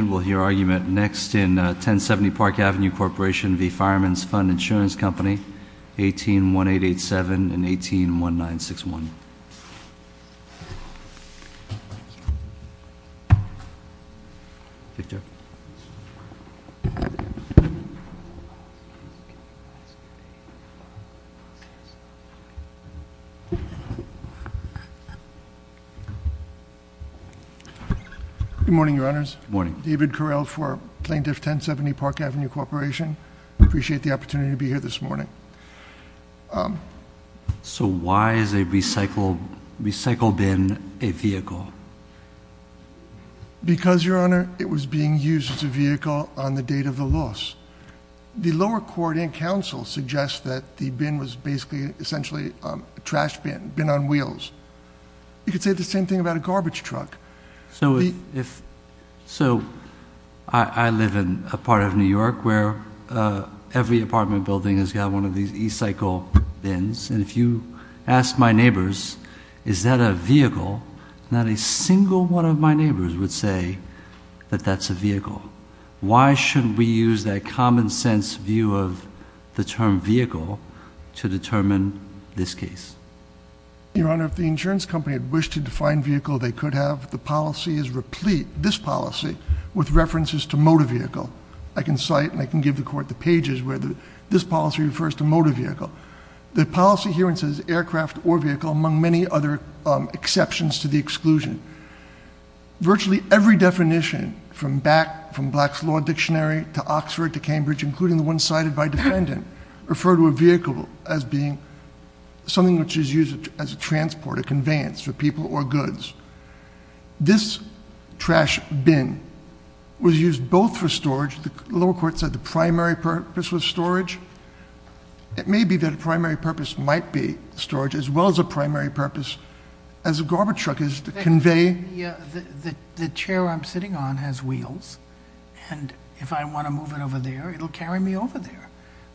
Fireman's Fund Insurance Company, 181887 and 181961. Victor. Good morning. David Correll for Plaintiff 1070 Park Avenue Corporation. Appreciate the opportunity to be here this morning. So why is a recycle bin a vehicle? Because, Your Honor, it was being used as a vehicle on the date of the loss. The lower court and counsel suggest that the bin was basically, essentially, a trash bin, bin on wheels. You could say the same thing about a garbage truck. So I live in a part of New York where every apartment building has got one of these e-cycle bins. And if you ask my neighbors, is that a vehicle? Not a single one of my neighbors would say that that's a vehicle. Why shouldn't we use that common sense view of the term vehicle to determine this case? Your Honor, if the insurance company had wished to define vehicle they could have, the policy is replete, this policy, with references to motor vehicle. I can cite and I can give the court the pages where this policy refers to motor vehicle. The policy herein says aircraft or vehicle, among many other exceptions to the exclusion. Virtually every definition from back from Black's Law Dictionary to Oxford to Cambridge, including the one cited by defendant, refer to a vehicle as being something which is used as a transport, a conveyance for people or goods. This trash bin was used both for storage, the lower court said the primary purpose was storage. It may be that a primary purpose might be storage, as well as a primary purpose as a garbage truck is to convey. The chair I'm sitting on has wheels, and if I want to move it over there, it'll carry me over there.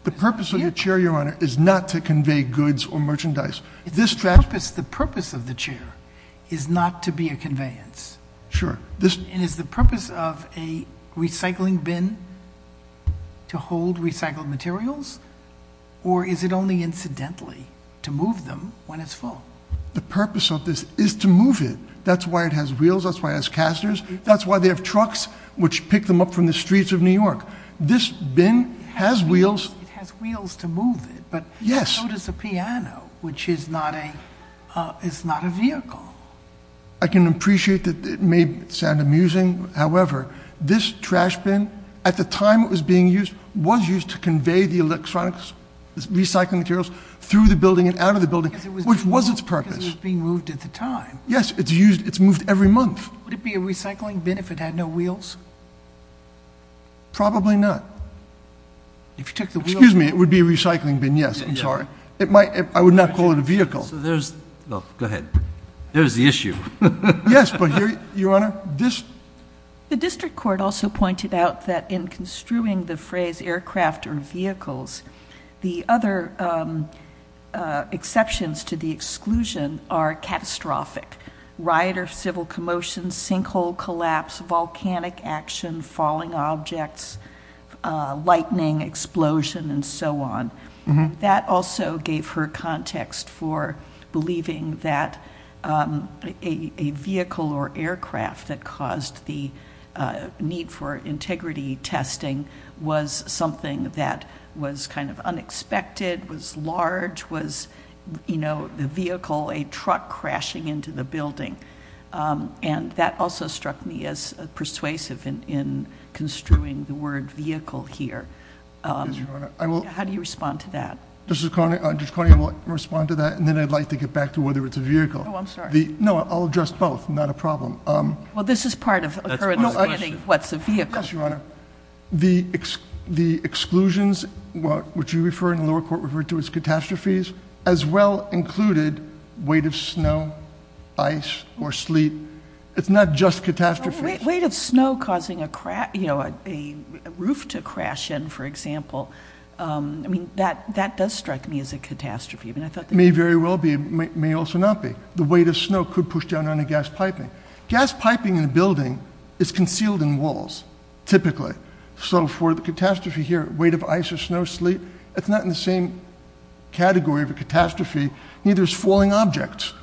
The purpose of the chair, Your Honor, is not to convey goods or merchandise. This trash- The purpose of the chair is not to be a conveyance. Sure. And is the purpose of a recycling bin to hold recycled materials? Or is it only incidentally to move them when it's full? The purpose of this is to move it. That's why it has wheels, that's why it has casters, that's why they have trucks which pick them up from the streets of New York. This bin has wheels. It has wheels to move it, but- Yes. So does the piano, which is not a vehicle. I can appreciate that it may sound amusing. However, this trash bin, at the time it was being used, was used to convey the electronic recycling materials through the building and out of the building, which was its purpose. Because it was being moved at the time. Yes, it's used, it's moved every month. Would it be a recycling bin if it had no wheels? Probably not. If you took the wheels- Excuse me, it would be a recycling bin, yes. I'm sorry. It might, I would not call it a vehicle. So there's, no, go ahead. There's the issue. Yes, but here, Your Honor, this- The district court also pointed out that in construing the phrase aircraft or vehicles, the other exceptions to the exclusion are catastrophic. Riot or civil commotion, sinkhole collapse, volcanic action, falling objects, lightning, explosion, and so on. That also gave her context for believing that a vehicle or aircraft that caused the need for integrity testing was something that was kind of unexpected, was large, was the vehicle, a truck crashing into the building. And that also struck me as persuasive in construing the word vehicle here. How do you respond to that? Mr. Cornyn will respond to that, and then I'd like to get back to whether it's a vehicle. I'm sorry. No, I'll address both, not a problem. Well, this is part of her understanding of what's a vehicle. Yes, Your Honor. The exclusions, which you refer and the lower court referred to as catastrophes, as well included weight of snow, ice, or sleet. It's not just catastrophes. Weight of snow causing a roof to crash in, for example. I mean, that does strike me as a catastrophe. I mean, I thought that- May very well be, may also not be. The weight of snow could push down on a gas piping. Gas piping in a building is concealed in walls, typically. So for the catastrophe here, weight of ice or snow, sleet, it's not in the same category of a catastrophe, neither is falling objects.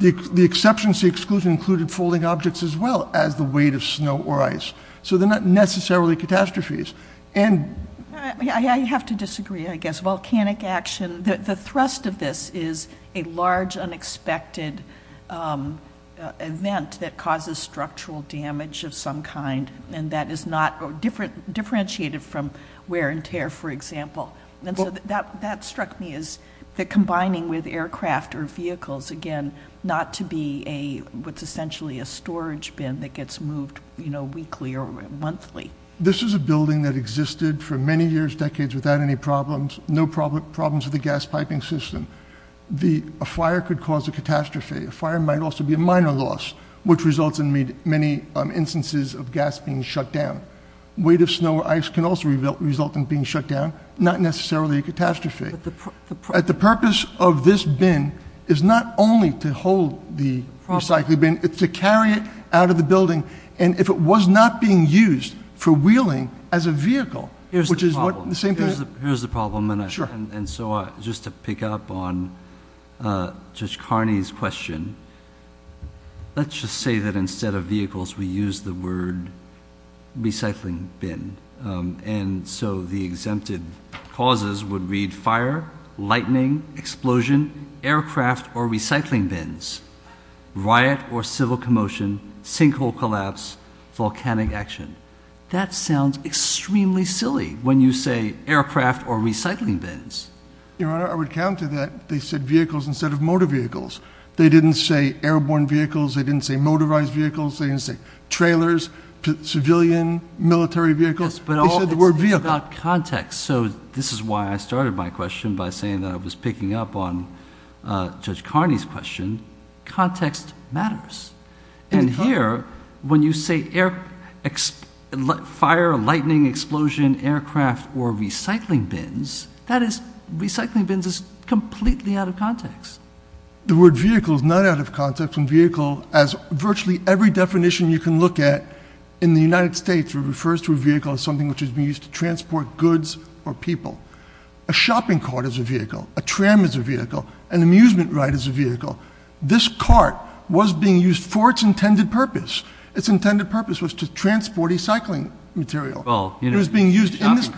The exceptions, the exclusion included falling objects as well as the weight of snow or ice. So they're not necessarily catastrophes. And- I have to disagree, I guess. Volcanic action, the thrust of this is a large, unexpected event that causes structural damage of some kind. And that is not differentiated from wear and tear, for example. And so that struck me as the combining with aircraft or vehicles, again, not to be a, what's essentially a storage bin that gets moved weekly or monthly. This is a building that existed for many years, decades without any problems, no problems with the gas piping system. A fire could cause a catastrophe. A fire might also be a minor loss, which results in many instances of gas being shut down. Weight of snow or ice can also result in being shut down, not necessarily a catastrophe. At the purpose of this bin is not only to hold the recycling bin, it's to carry it out of the building. And if it was not being used for wheeling as a vehicle, which is what the same thing- Here's the problem, and so just to pick up on Judge Carney's question. Let's just say that instead of vehicles, we use the word recycling bin. And so the exempted causes would read fire, lightning, explosion, aircraft, or volcanic action. That sounds extremely silly when you say aircraft or recycling bins. Your Honor, I would counter that. They said vehicles instead of motor vehicles. They didn't say airborne vehicles. They didn't say motorized vehicles. They didn't say trailers, civilian, military vehicles. They said the word vehicle. It's about context. So this is why I started my question by saying that I was picking up on Judge Carney's question. Context matters. And here, when you say fire, lightning, explosion, aircraft, or recycling bins, that is- Recycling bins is completely out of context. The word vehicle is not out of context. And vehicle, as virtually every definition you can look at in the United States, refers to a vehicle as something which is used to transport goods or people. A shopping cart is a vehicle. A tram is a vehicle. An amusement ride is a vehicle. This cart was being used for its intended purpose. Its intended purpose was to transport recycling material. It was being used in this-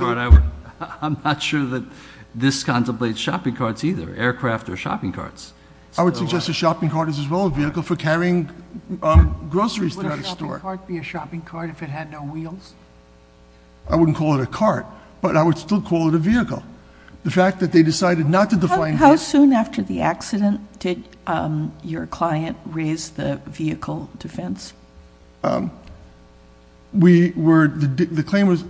I'm not sure that this contemplates shopping carts either, aircraft or shopping carts. I would suggest a shopping cart is as well a vehicle for carrying groceries throughout a store. Would a shopping cart be a shopping cart if it had no wheels? I wouldn't call it a cart, but I would still call it a vehicle. The fact that they decided not to define- How soon after the accident did your client raise the vehicle defense? We were, the claim was,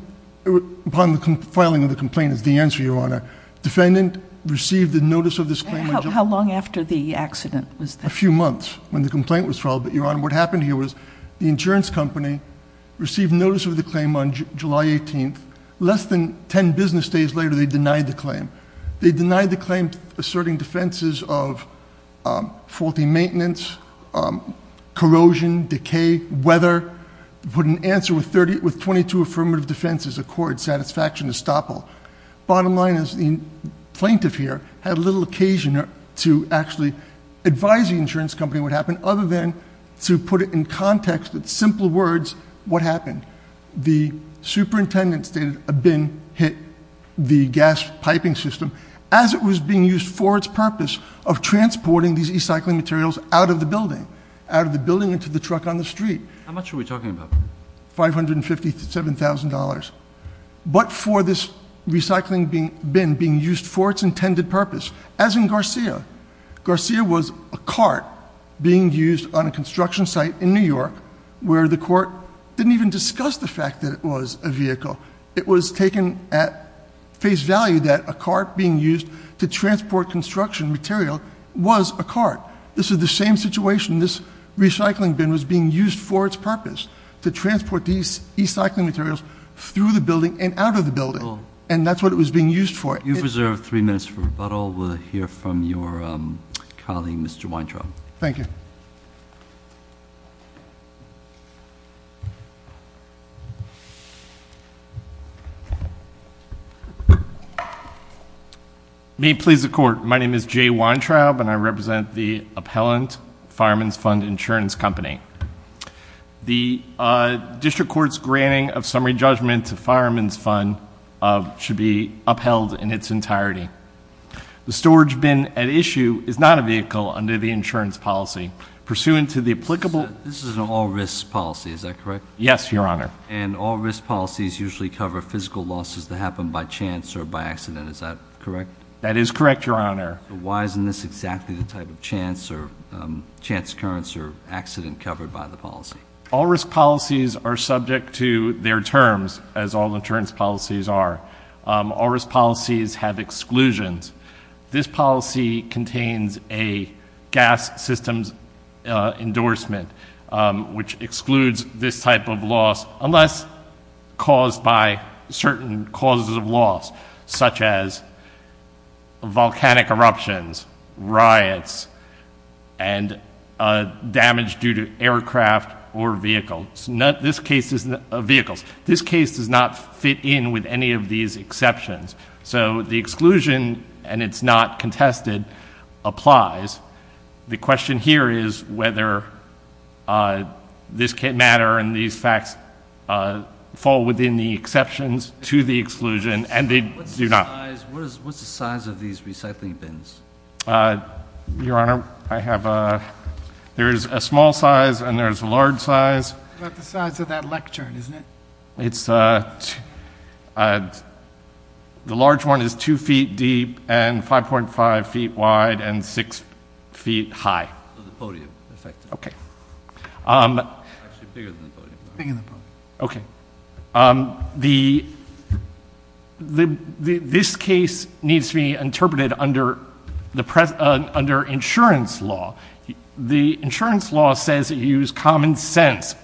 upon the filing of the complaint is the answer, Your Honor. Defendant received the notice of this claim- How long after the accident was that? A few months when the complaint was filed. But Your Honor, what happened here was the insurance company received notice of the claim on July 18th. Less than ten business days later, they denied the claim. They denied the claim asserting defenses of faulty maintenance, corrosion, decay, weather. Put an answer with 22 affirmative defenses, accord, satisfaction, estoppel. Bottom line is the plaintiff here had little occasion to actually advise the insurance company what happened, other than to put it in context with simple words, what happened? The superintendent stated a bin hit the gas piping system as it was being used for its purpose of transporting these recycling materials out of the building, out of the building into the truck on the street. How much are we talking about? $557,000. But for this recycling bin being used for its intended purpose, as in Garcia. Garcia was a cart being used on a construction site in New York where the court didn't even discuss the fact that it was a vehicle. It was taken at face value that a cart being used to transport construction material was a cart. This is the same situation. This recycling bin was being used for its purpose, to transport these recycling materials through the building and out of the building. And that's what it was being used for. You've reserved three minutes for rebuttal. We'll hear from your colleague, Mr. Weintraub. Thank you. May it please the court. My name is Jay Weintraub and I represent the appellant, Fireman's Fund Insurance Company. The district court's granting of summary judgment to Fireman's Fund should be upheld in its entirety. The storage bin at issue is not a vehicle under the insurance policy. Pursuant to the applicable- This is an all risk policy, is that correct? Yes, your honor. And all risk policies usually cover physical losses that happen by chance or by accident, is that correct? That is correct, your honor. Why isn't this exactly the type of chance, or chance occurrence, or accident covered by the policy? All risk policies are subject to their terms, as all insurance policies are. All risk policies have exclusions. This policy contains a gas systems endorsement, which excludes this type of loss unless caused by certain causes of loss. Such as volcanic eruptions, riots, and damage due to aircraft or vehicles. This case does not fit in with any of these exceptions. So the exclusion, and it's not contested, applies. The question here is whether this can matter and these facts fall within the exceptions to the exclusion, and they do not. What's the size of these recycling bins? Your honor, I have a, there's a small size and there's a large size. That's the size of that lectern, isn't it? It's, the large one is two feet deep and 5.5 feet wide and six feet high. Of the podium, in effect. Okay. Actually, bigger than the podium. Bigger than the podium. Okay, this case needs to be interpreted under insurance law. The insurance law says that you use common sense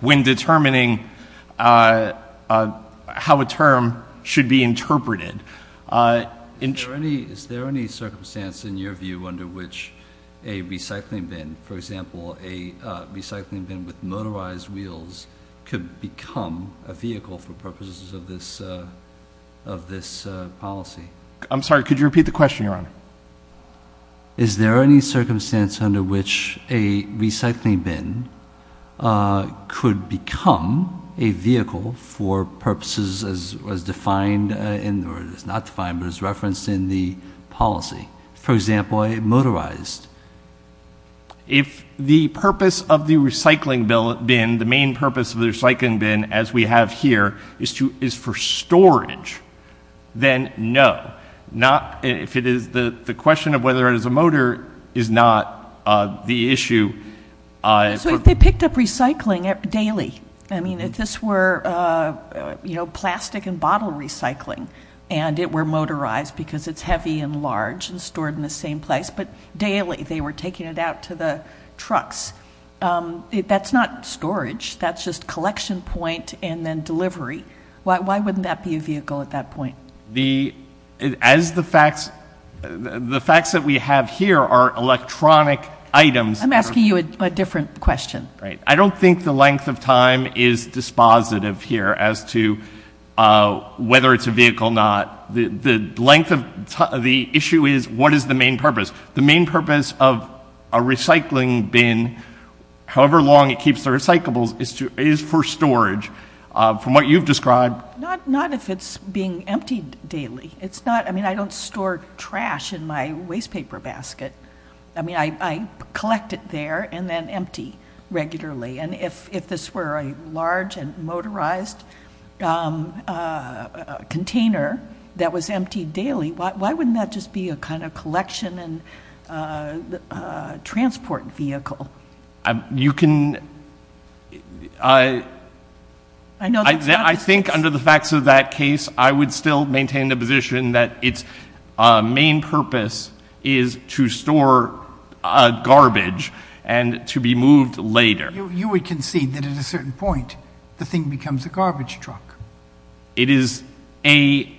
when determining how a term should be interpreted. Is there any circumstance in your view under which a recycling bin, for example, a recycling bin with motorized wheels, could become a vehicle for purposes of this policy? Is there any circumstance under which a recycling bin could become a vehicle for purposes as defined in, or it's not defined, but it's referenced in the policy? For example, a motorized. If the purpose of the recycling bin, the main purpose of the recycling bin, as we have here, is for storage, then no. Not, if it is the question of whether it is a motor is not the issue. So if they picked up recycling daily, I mean, if this were plastic and bottle recycling, and it were motorized because it's heavy and large and stored in the same place, but daily they were taking it out to the trucks. That's not storage, that's just collection point and then delivery. Why wouldn't that be a vehicle at that point? The, as the facts that we have here are electronic items. I'm asking you a different question. Right, I don't think the length of time is dispositive here as to whether it's a vehicle or not, the issue is what is the main purpose? The main purpose of a recycling bin, however long it keeps the recyclables, is for storage, from what you've described. Not if it's being emptied daily. It's not, I mean, I don't store trash in my waste paper basket. I mean, I collect it there and then empty regularly. And if this were a large and motorized container that was emptied daily, why wouldn't that just be a kind of collection and transport vehicle? You can, I think under the facts of that case, I would still maintain the position that its main purpose is to store garbage and to be moved later. You would concede that at a certain point, the thing becomes a garbage truck. It is a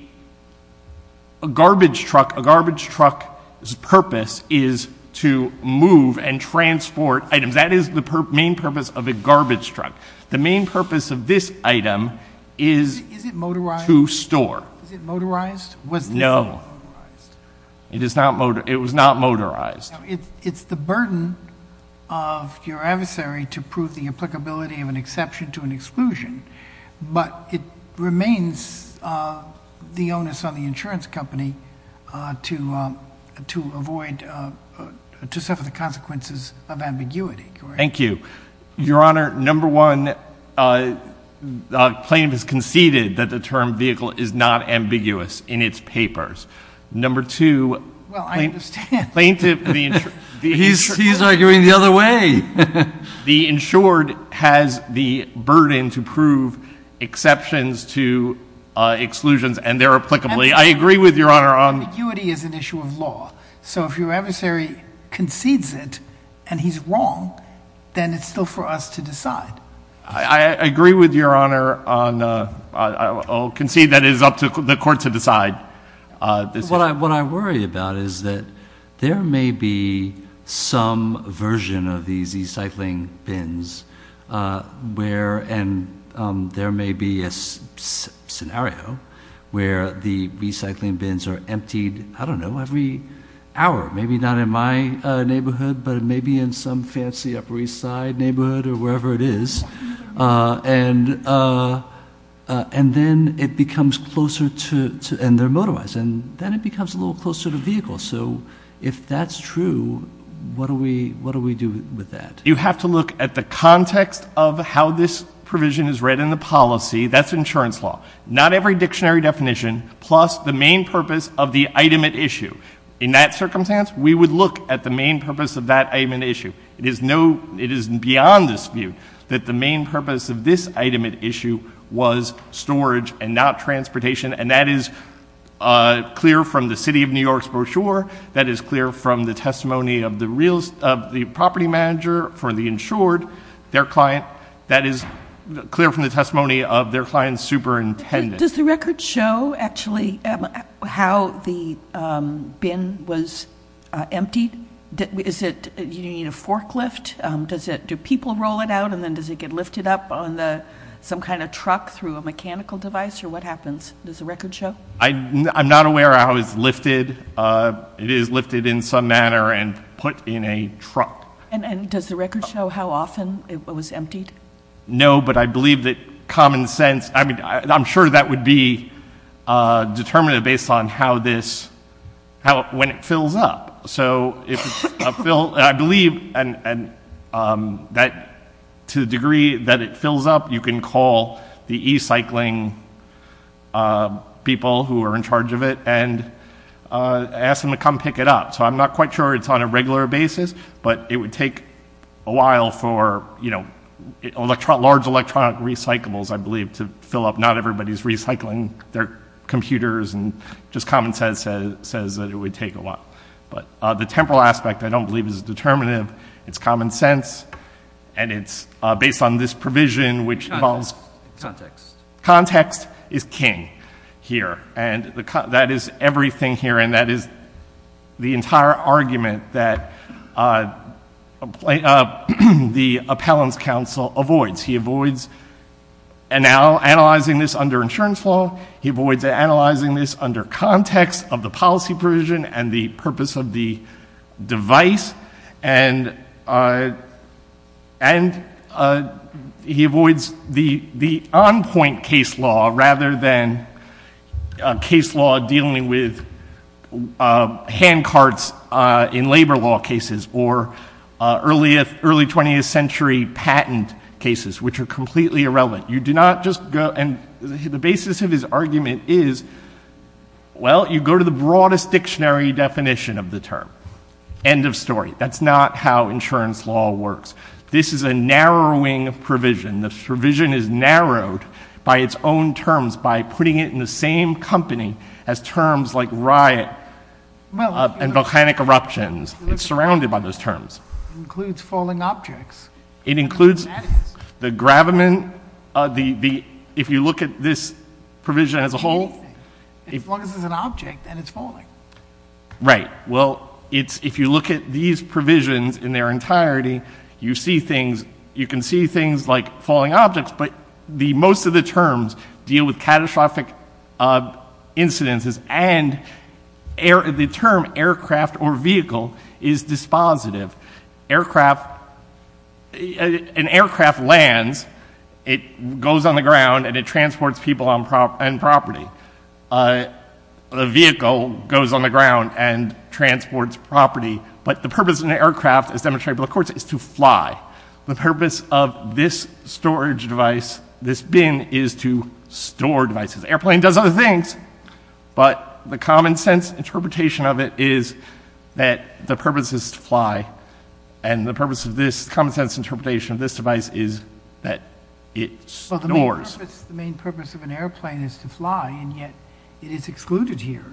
garbage truck, a garbage truck's purpose is to move and transport items, that is the main purpose of a garbage truck. The main purpose of this item is to store. Is it motorized? Is it motorized? Was it motorized? No, it was not motorized. It's the burden of your adversary to prove the applicability of an exception to an exclusion. But it remains the onus on the insurance company to suffer the consequences of ambiguity. Thank you. Your Honor, number one, the plaintiff has conceded that the term vehicle is not ambiguous in its papers. Number two- Well, I understand. Plaintiff, the insured- He's arguing the other way. The insured has the burden to prove exceptions to exclusions and they're applicably. I agree with your Honor on- Ambiguity is an issue of law. So if your adversary concedes it and he's wrong, then it's still for us to decide. I agree with your Honor on, I'll concede that it is up to the court to decide. What I worry about is that there may be some version of these e-cycling bins where, and there may be a scenario where the e-cycling bins are emptied, I don't know, every hour. Maybe not in my neighborhood, but maybe in some fancy Upper East Side neighborhood or wherever it is. And then it becomes closer to, and they're motorized, and then it becomes a little closer to vehicle. So if that's true, what do we do with that? You have to look at the context of how this provision is read in the policy, that's insurance law. Not every dictionary definition, plus the main purpose of the item at issue. In that circumstance, we would look at the main purpose of that item at issue. It is beyond dispute that the main purpose of this item at issue was storage and not transportation. And that is clear from the City of New York's brochure. That is clear from the testimony of the property manager for the insured, their client. That is clear from the testimony of their client's superintendent. Does the record show, actually, how the bin was emptied? Do you need a forklift? Do people roll it out, and then does it get lifted up on some kind of truck through a mechanical device, or what happens? Does the record show? I'm not aware how it's lifted. It is lifted in some manner and put in a truck. And does the record show how often it was emptied? No, but I believe that common sense, I mean, I'm sure that would be determined based on how this, when it fills up. So, I believe, and to the degree that it fills up, you can call the e-cycling people who are in charge of it, and ask them to come pick it up. So I'm not quite sure it's on a regular basis, but it would take a while for large electronic recyclables, I believe, to fill up. Not everybody's recycling their computers, and just common sense says that it would take a while. But the temporal aspect, I don't believe, is determinative. It's common sense, and it's based on this provision, which involves- Context. Context is king here, and that is everything here, and that is the entire argument that the appellant's counsel avoids. He avoids analyzing this under insurance law. He avoids analyzing this under context of the policy provision and the purpose of the device. And he avoids the on-point case law, rather than case law dealing with hand carts in labor law cases, or early 20th century patent cases, which are completely irrelevant. You do not just go, and the basis of his argument is, well, you go to the broadest dictionary definition of the term, end of story. That's not how insurance law works. This is a narrowing provision. This provision is narrowed by its own terms, by putting it in the same company as terms like riot and volcanic eruptions. It's surrounded by those terms. Includes falling objects. It includes the gravamen, if you look at this provision as a whole. As long as it's an object, then it's falling. Right, well, if you look at these provisions in their entirety, you can see things like falling objects, but most of the terms deal with catastrophic incidences. And the term aircraft or vehicle is dispositive. Aircraft, an aircraft lands, it goes on the ground and it transports people and property. A vehicle goes on the ground and transports property. But the purpose of an aircraft, as demonstrated by the courts, is to fly. The purpose of this storage device, this bin, is to store devices. Airplane does other things, but the common sense interpretation of it is that the purpose is to fly, and the purpose of this common sense interpretation of this device is that it stores. The main purpose of an airplane is to fly, and yet it is excluded here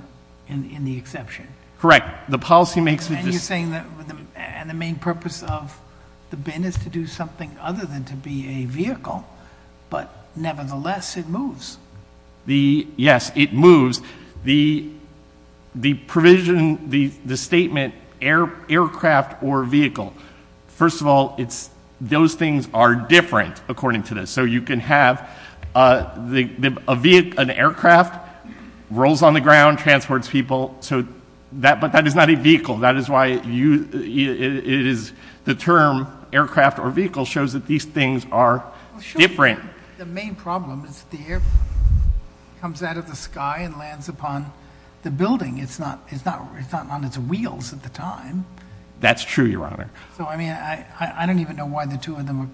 in the exception. Correct. The policy makes it- And you're saying that the main purpose of the bin is to do something other than to be a vehicle. But nevertheless, it moves. Yes, it moves. The provision, the statement aircraft or vehicle. First of all, those things are different according to this. So you can have an aircraft rolls on the ground, transports people, but that is not a vehicle. That is why it is the term aircraft or vehicle shows that these things are different. The main problem is the air comes out of the sky and lands upon the building. It's not on its wheels at the time. That's true, Your Honor. So, I mean, I don't even know why the two of them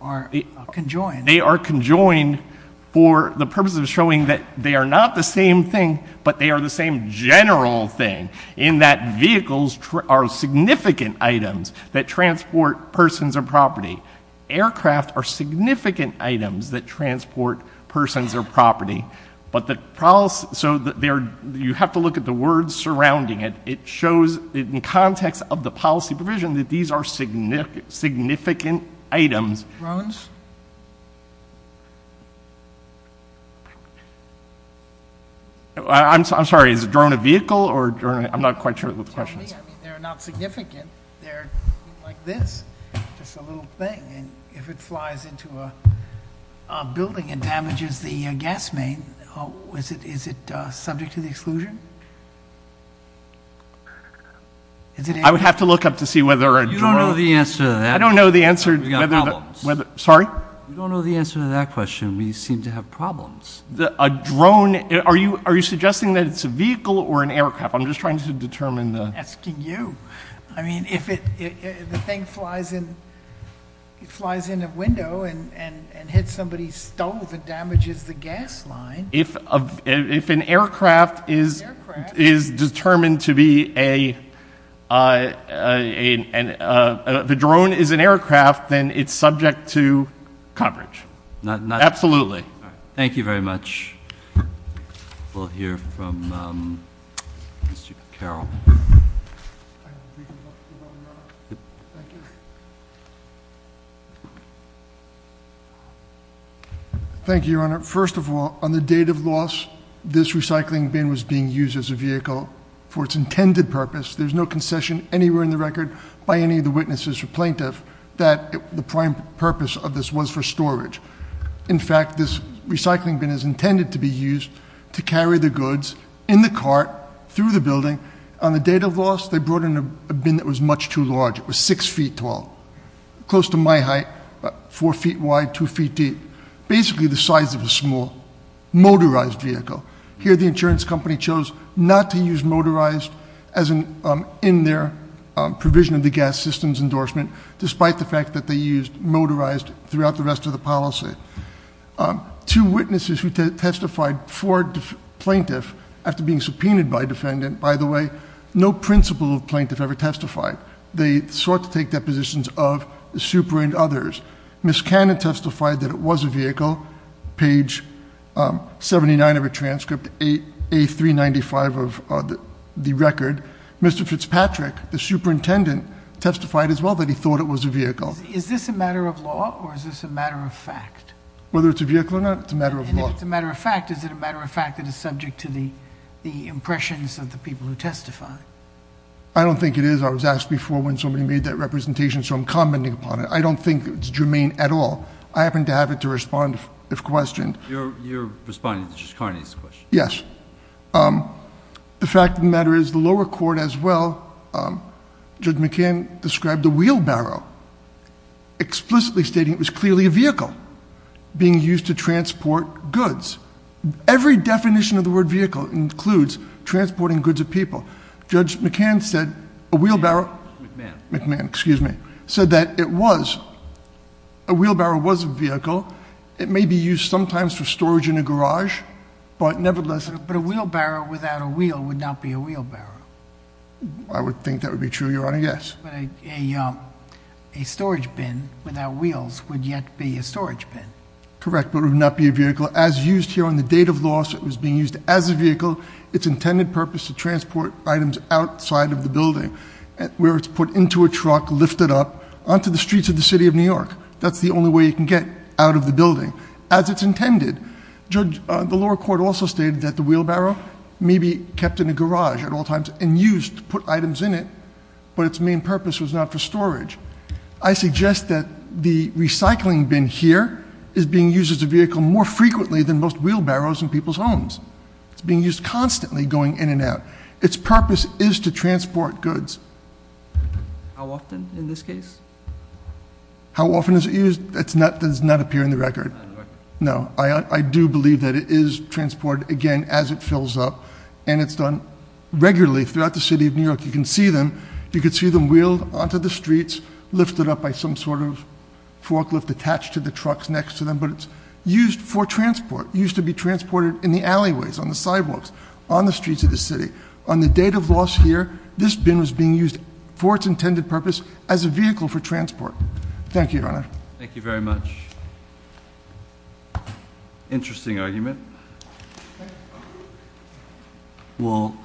are conjoined. They are conjoined for the purpose of showing that they are not the same thing, but they are the same general thing, in that vehicles are significant items that transport persons or property. Aircraft are significant items that transport persons or property. But the, so you have to look at the words surrounding it. It shows in context of the policy provision that these are significant items. Drones? I'm sorry, is a drone a vehicle or, I'm not quite sure what the question is. They're not significant. They're like this, just a little thing. And if it flies into a building and damages the gas main, is it subject to the exclusion? Is it- I would have to look up to see whether a drone- You don't know the answer to that. I don't know the answer to whether the- We've got problems. Sorry? You don't know the answer to that question. We seem to have problems. A drone, are you suggesting that it's a vehicle or an aircraft? I'm just trying to determine the- I'm asking you. If the thing flies in a window and hits somebody's stove, it damages the gas line. If an aircraft is determined to be a, the drone is an aircraft, then it's subject to coverage. Not- Absolutely. Thank you very much. We'll hear from Mr. Carroll. Thank you. Thank you, Your Honor. First of all, on the date of loss, this recycling bin was being used as a vehicle for its intended purpose. There's no concession anywhere in the record by any of the witnesses or plaintiff that the prime purpose of this was for storage. In fact, this recycling bin is intended to be used to carry the goods in the cart through the building. On the date of loss, they brought in a bin that was much too large. It was six feet tall. Close to my height, about four feet wide, two feet deep. Basically, the size of a small motorized vehicle. Here, the insurance company chose not to use motorized in their provision of the gas systems endorsement, despite the fact that they used motorized throughout the rest of the policy. Two witnesses who testified for plaintiff, after being subpoenaed by defendant, by the way, no principle of plaintiff ever testified. They sought to take depositions of the super and others. Ms. Cannon testified that it was a vehicle, page 79 of her transcript, A395 of the record. Mr. Fitzpatrick, the superintendent, testified as well that he thought it was a vehicle. Is this a matter of law, or is this a matter of fact? Whether it's a vehicle or not, it's a matter of law. And if it's a matter of fact, is it a matter of fact that is subject to the impressions of the people who testify? I don't think it is. I was asked before when somebody made that representation, so I'm commenting upon it. I don't think it's germane at all. I happen to have it to respond if questioned. You're responding to Judge Carney's question. Yes. The fact of the matter is, the lower court as well, Judge McCann described a wheelbarrow. Explicitly stating it was clearly a vehicle being used to transport goods. Every definition of the word vehicle includes transporting goods of people. Judge McCann said a wheelbarrow. McMahon. McMahon, excuse me. Said that it was, a wheelbarrow was a vehicle. It may be used sometimes for storage in a garage. But nevertheless- But a wheelbarrow without a wheel would not be a wheelbarrow. I would think that would be true, Your Honor, yes. But a storage bin without wheels would yet be a storage bin. Correct, but it would not be a vehicle. As used here on the date of loss, it was being used as a vehicle. It's intended purpose to transport items outside of the building. Where it's put into a truck, lifted up onto the streets of the city of New York. Judge, the lower court also stated that the wheelbarrow may be kept in a garage at all times and used to put items in it. But it's main purpose was not for storage. I suggest that the recycling bin here is being used as a vehicle more frequently than most wheelbarrows in people's homes. It's being used constantly going in and out. It's purpose is to transport goods. How often in this case? How often is it used? That does not appear in the record. No, I do believe that it is transported, again, as it fills up. And it's done regularly throughout the city of New York. You can see them, you can see them wheeled onto the streets, lifted up by some sort of forklift attached to the trucks next to them. But it's used for transport, used to be transported in the alleyways, on the sidewalks, on the streets of the city. On the date of loss here, this bin was being used for its intended purpose as a vehicle for transport. Thank you, Your Honor. Thank you very much. Interesting argument. Well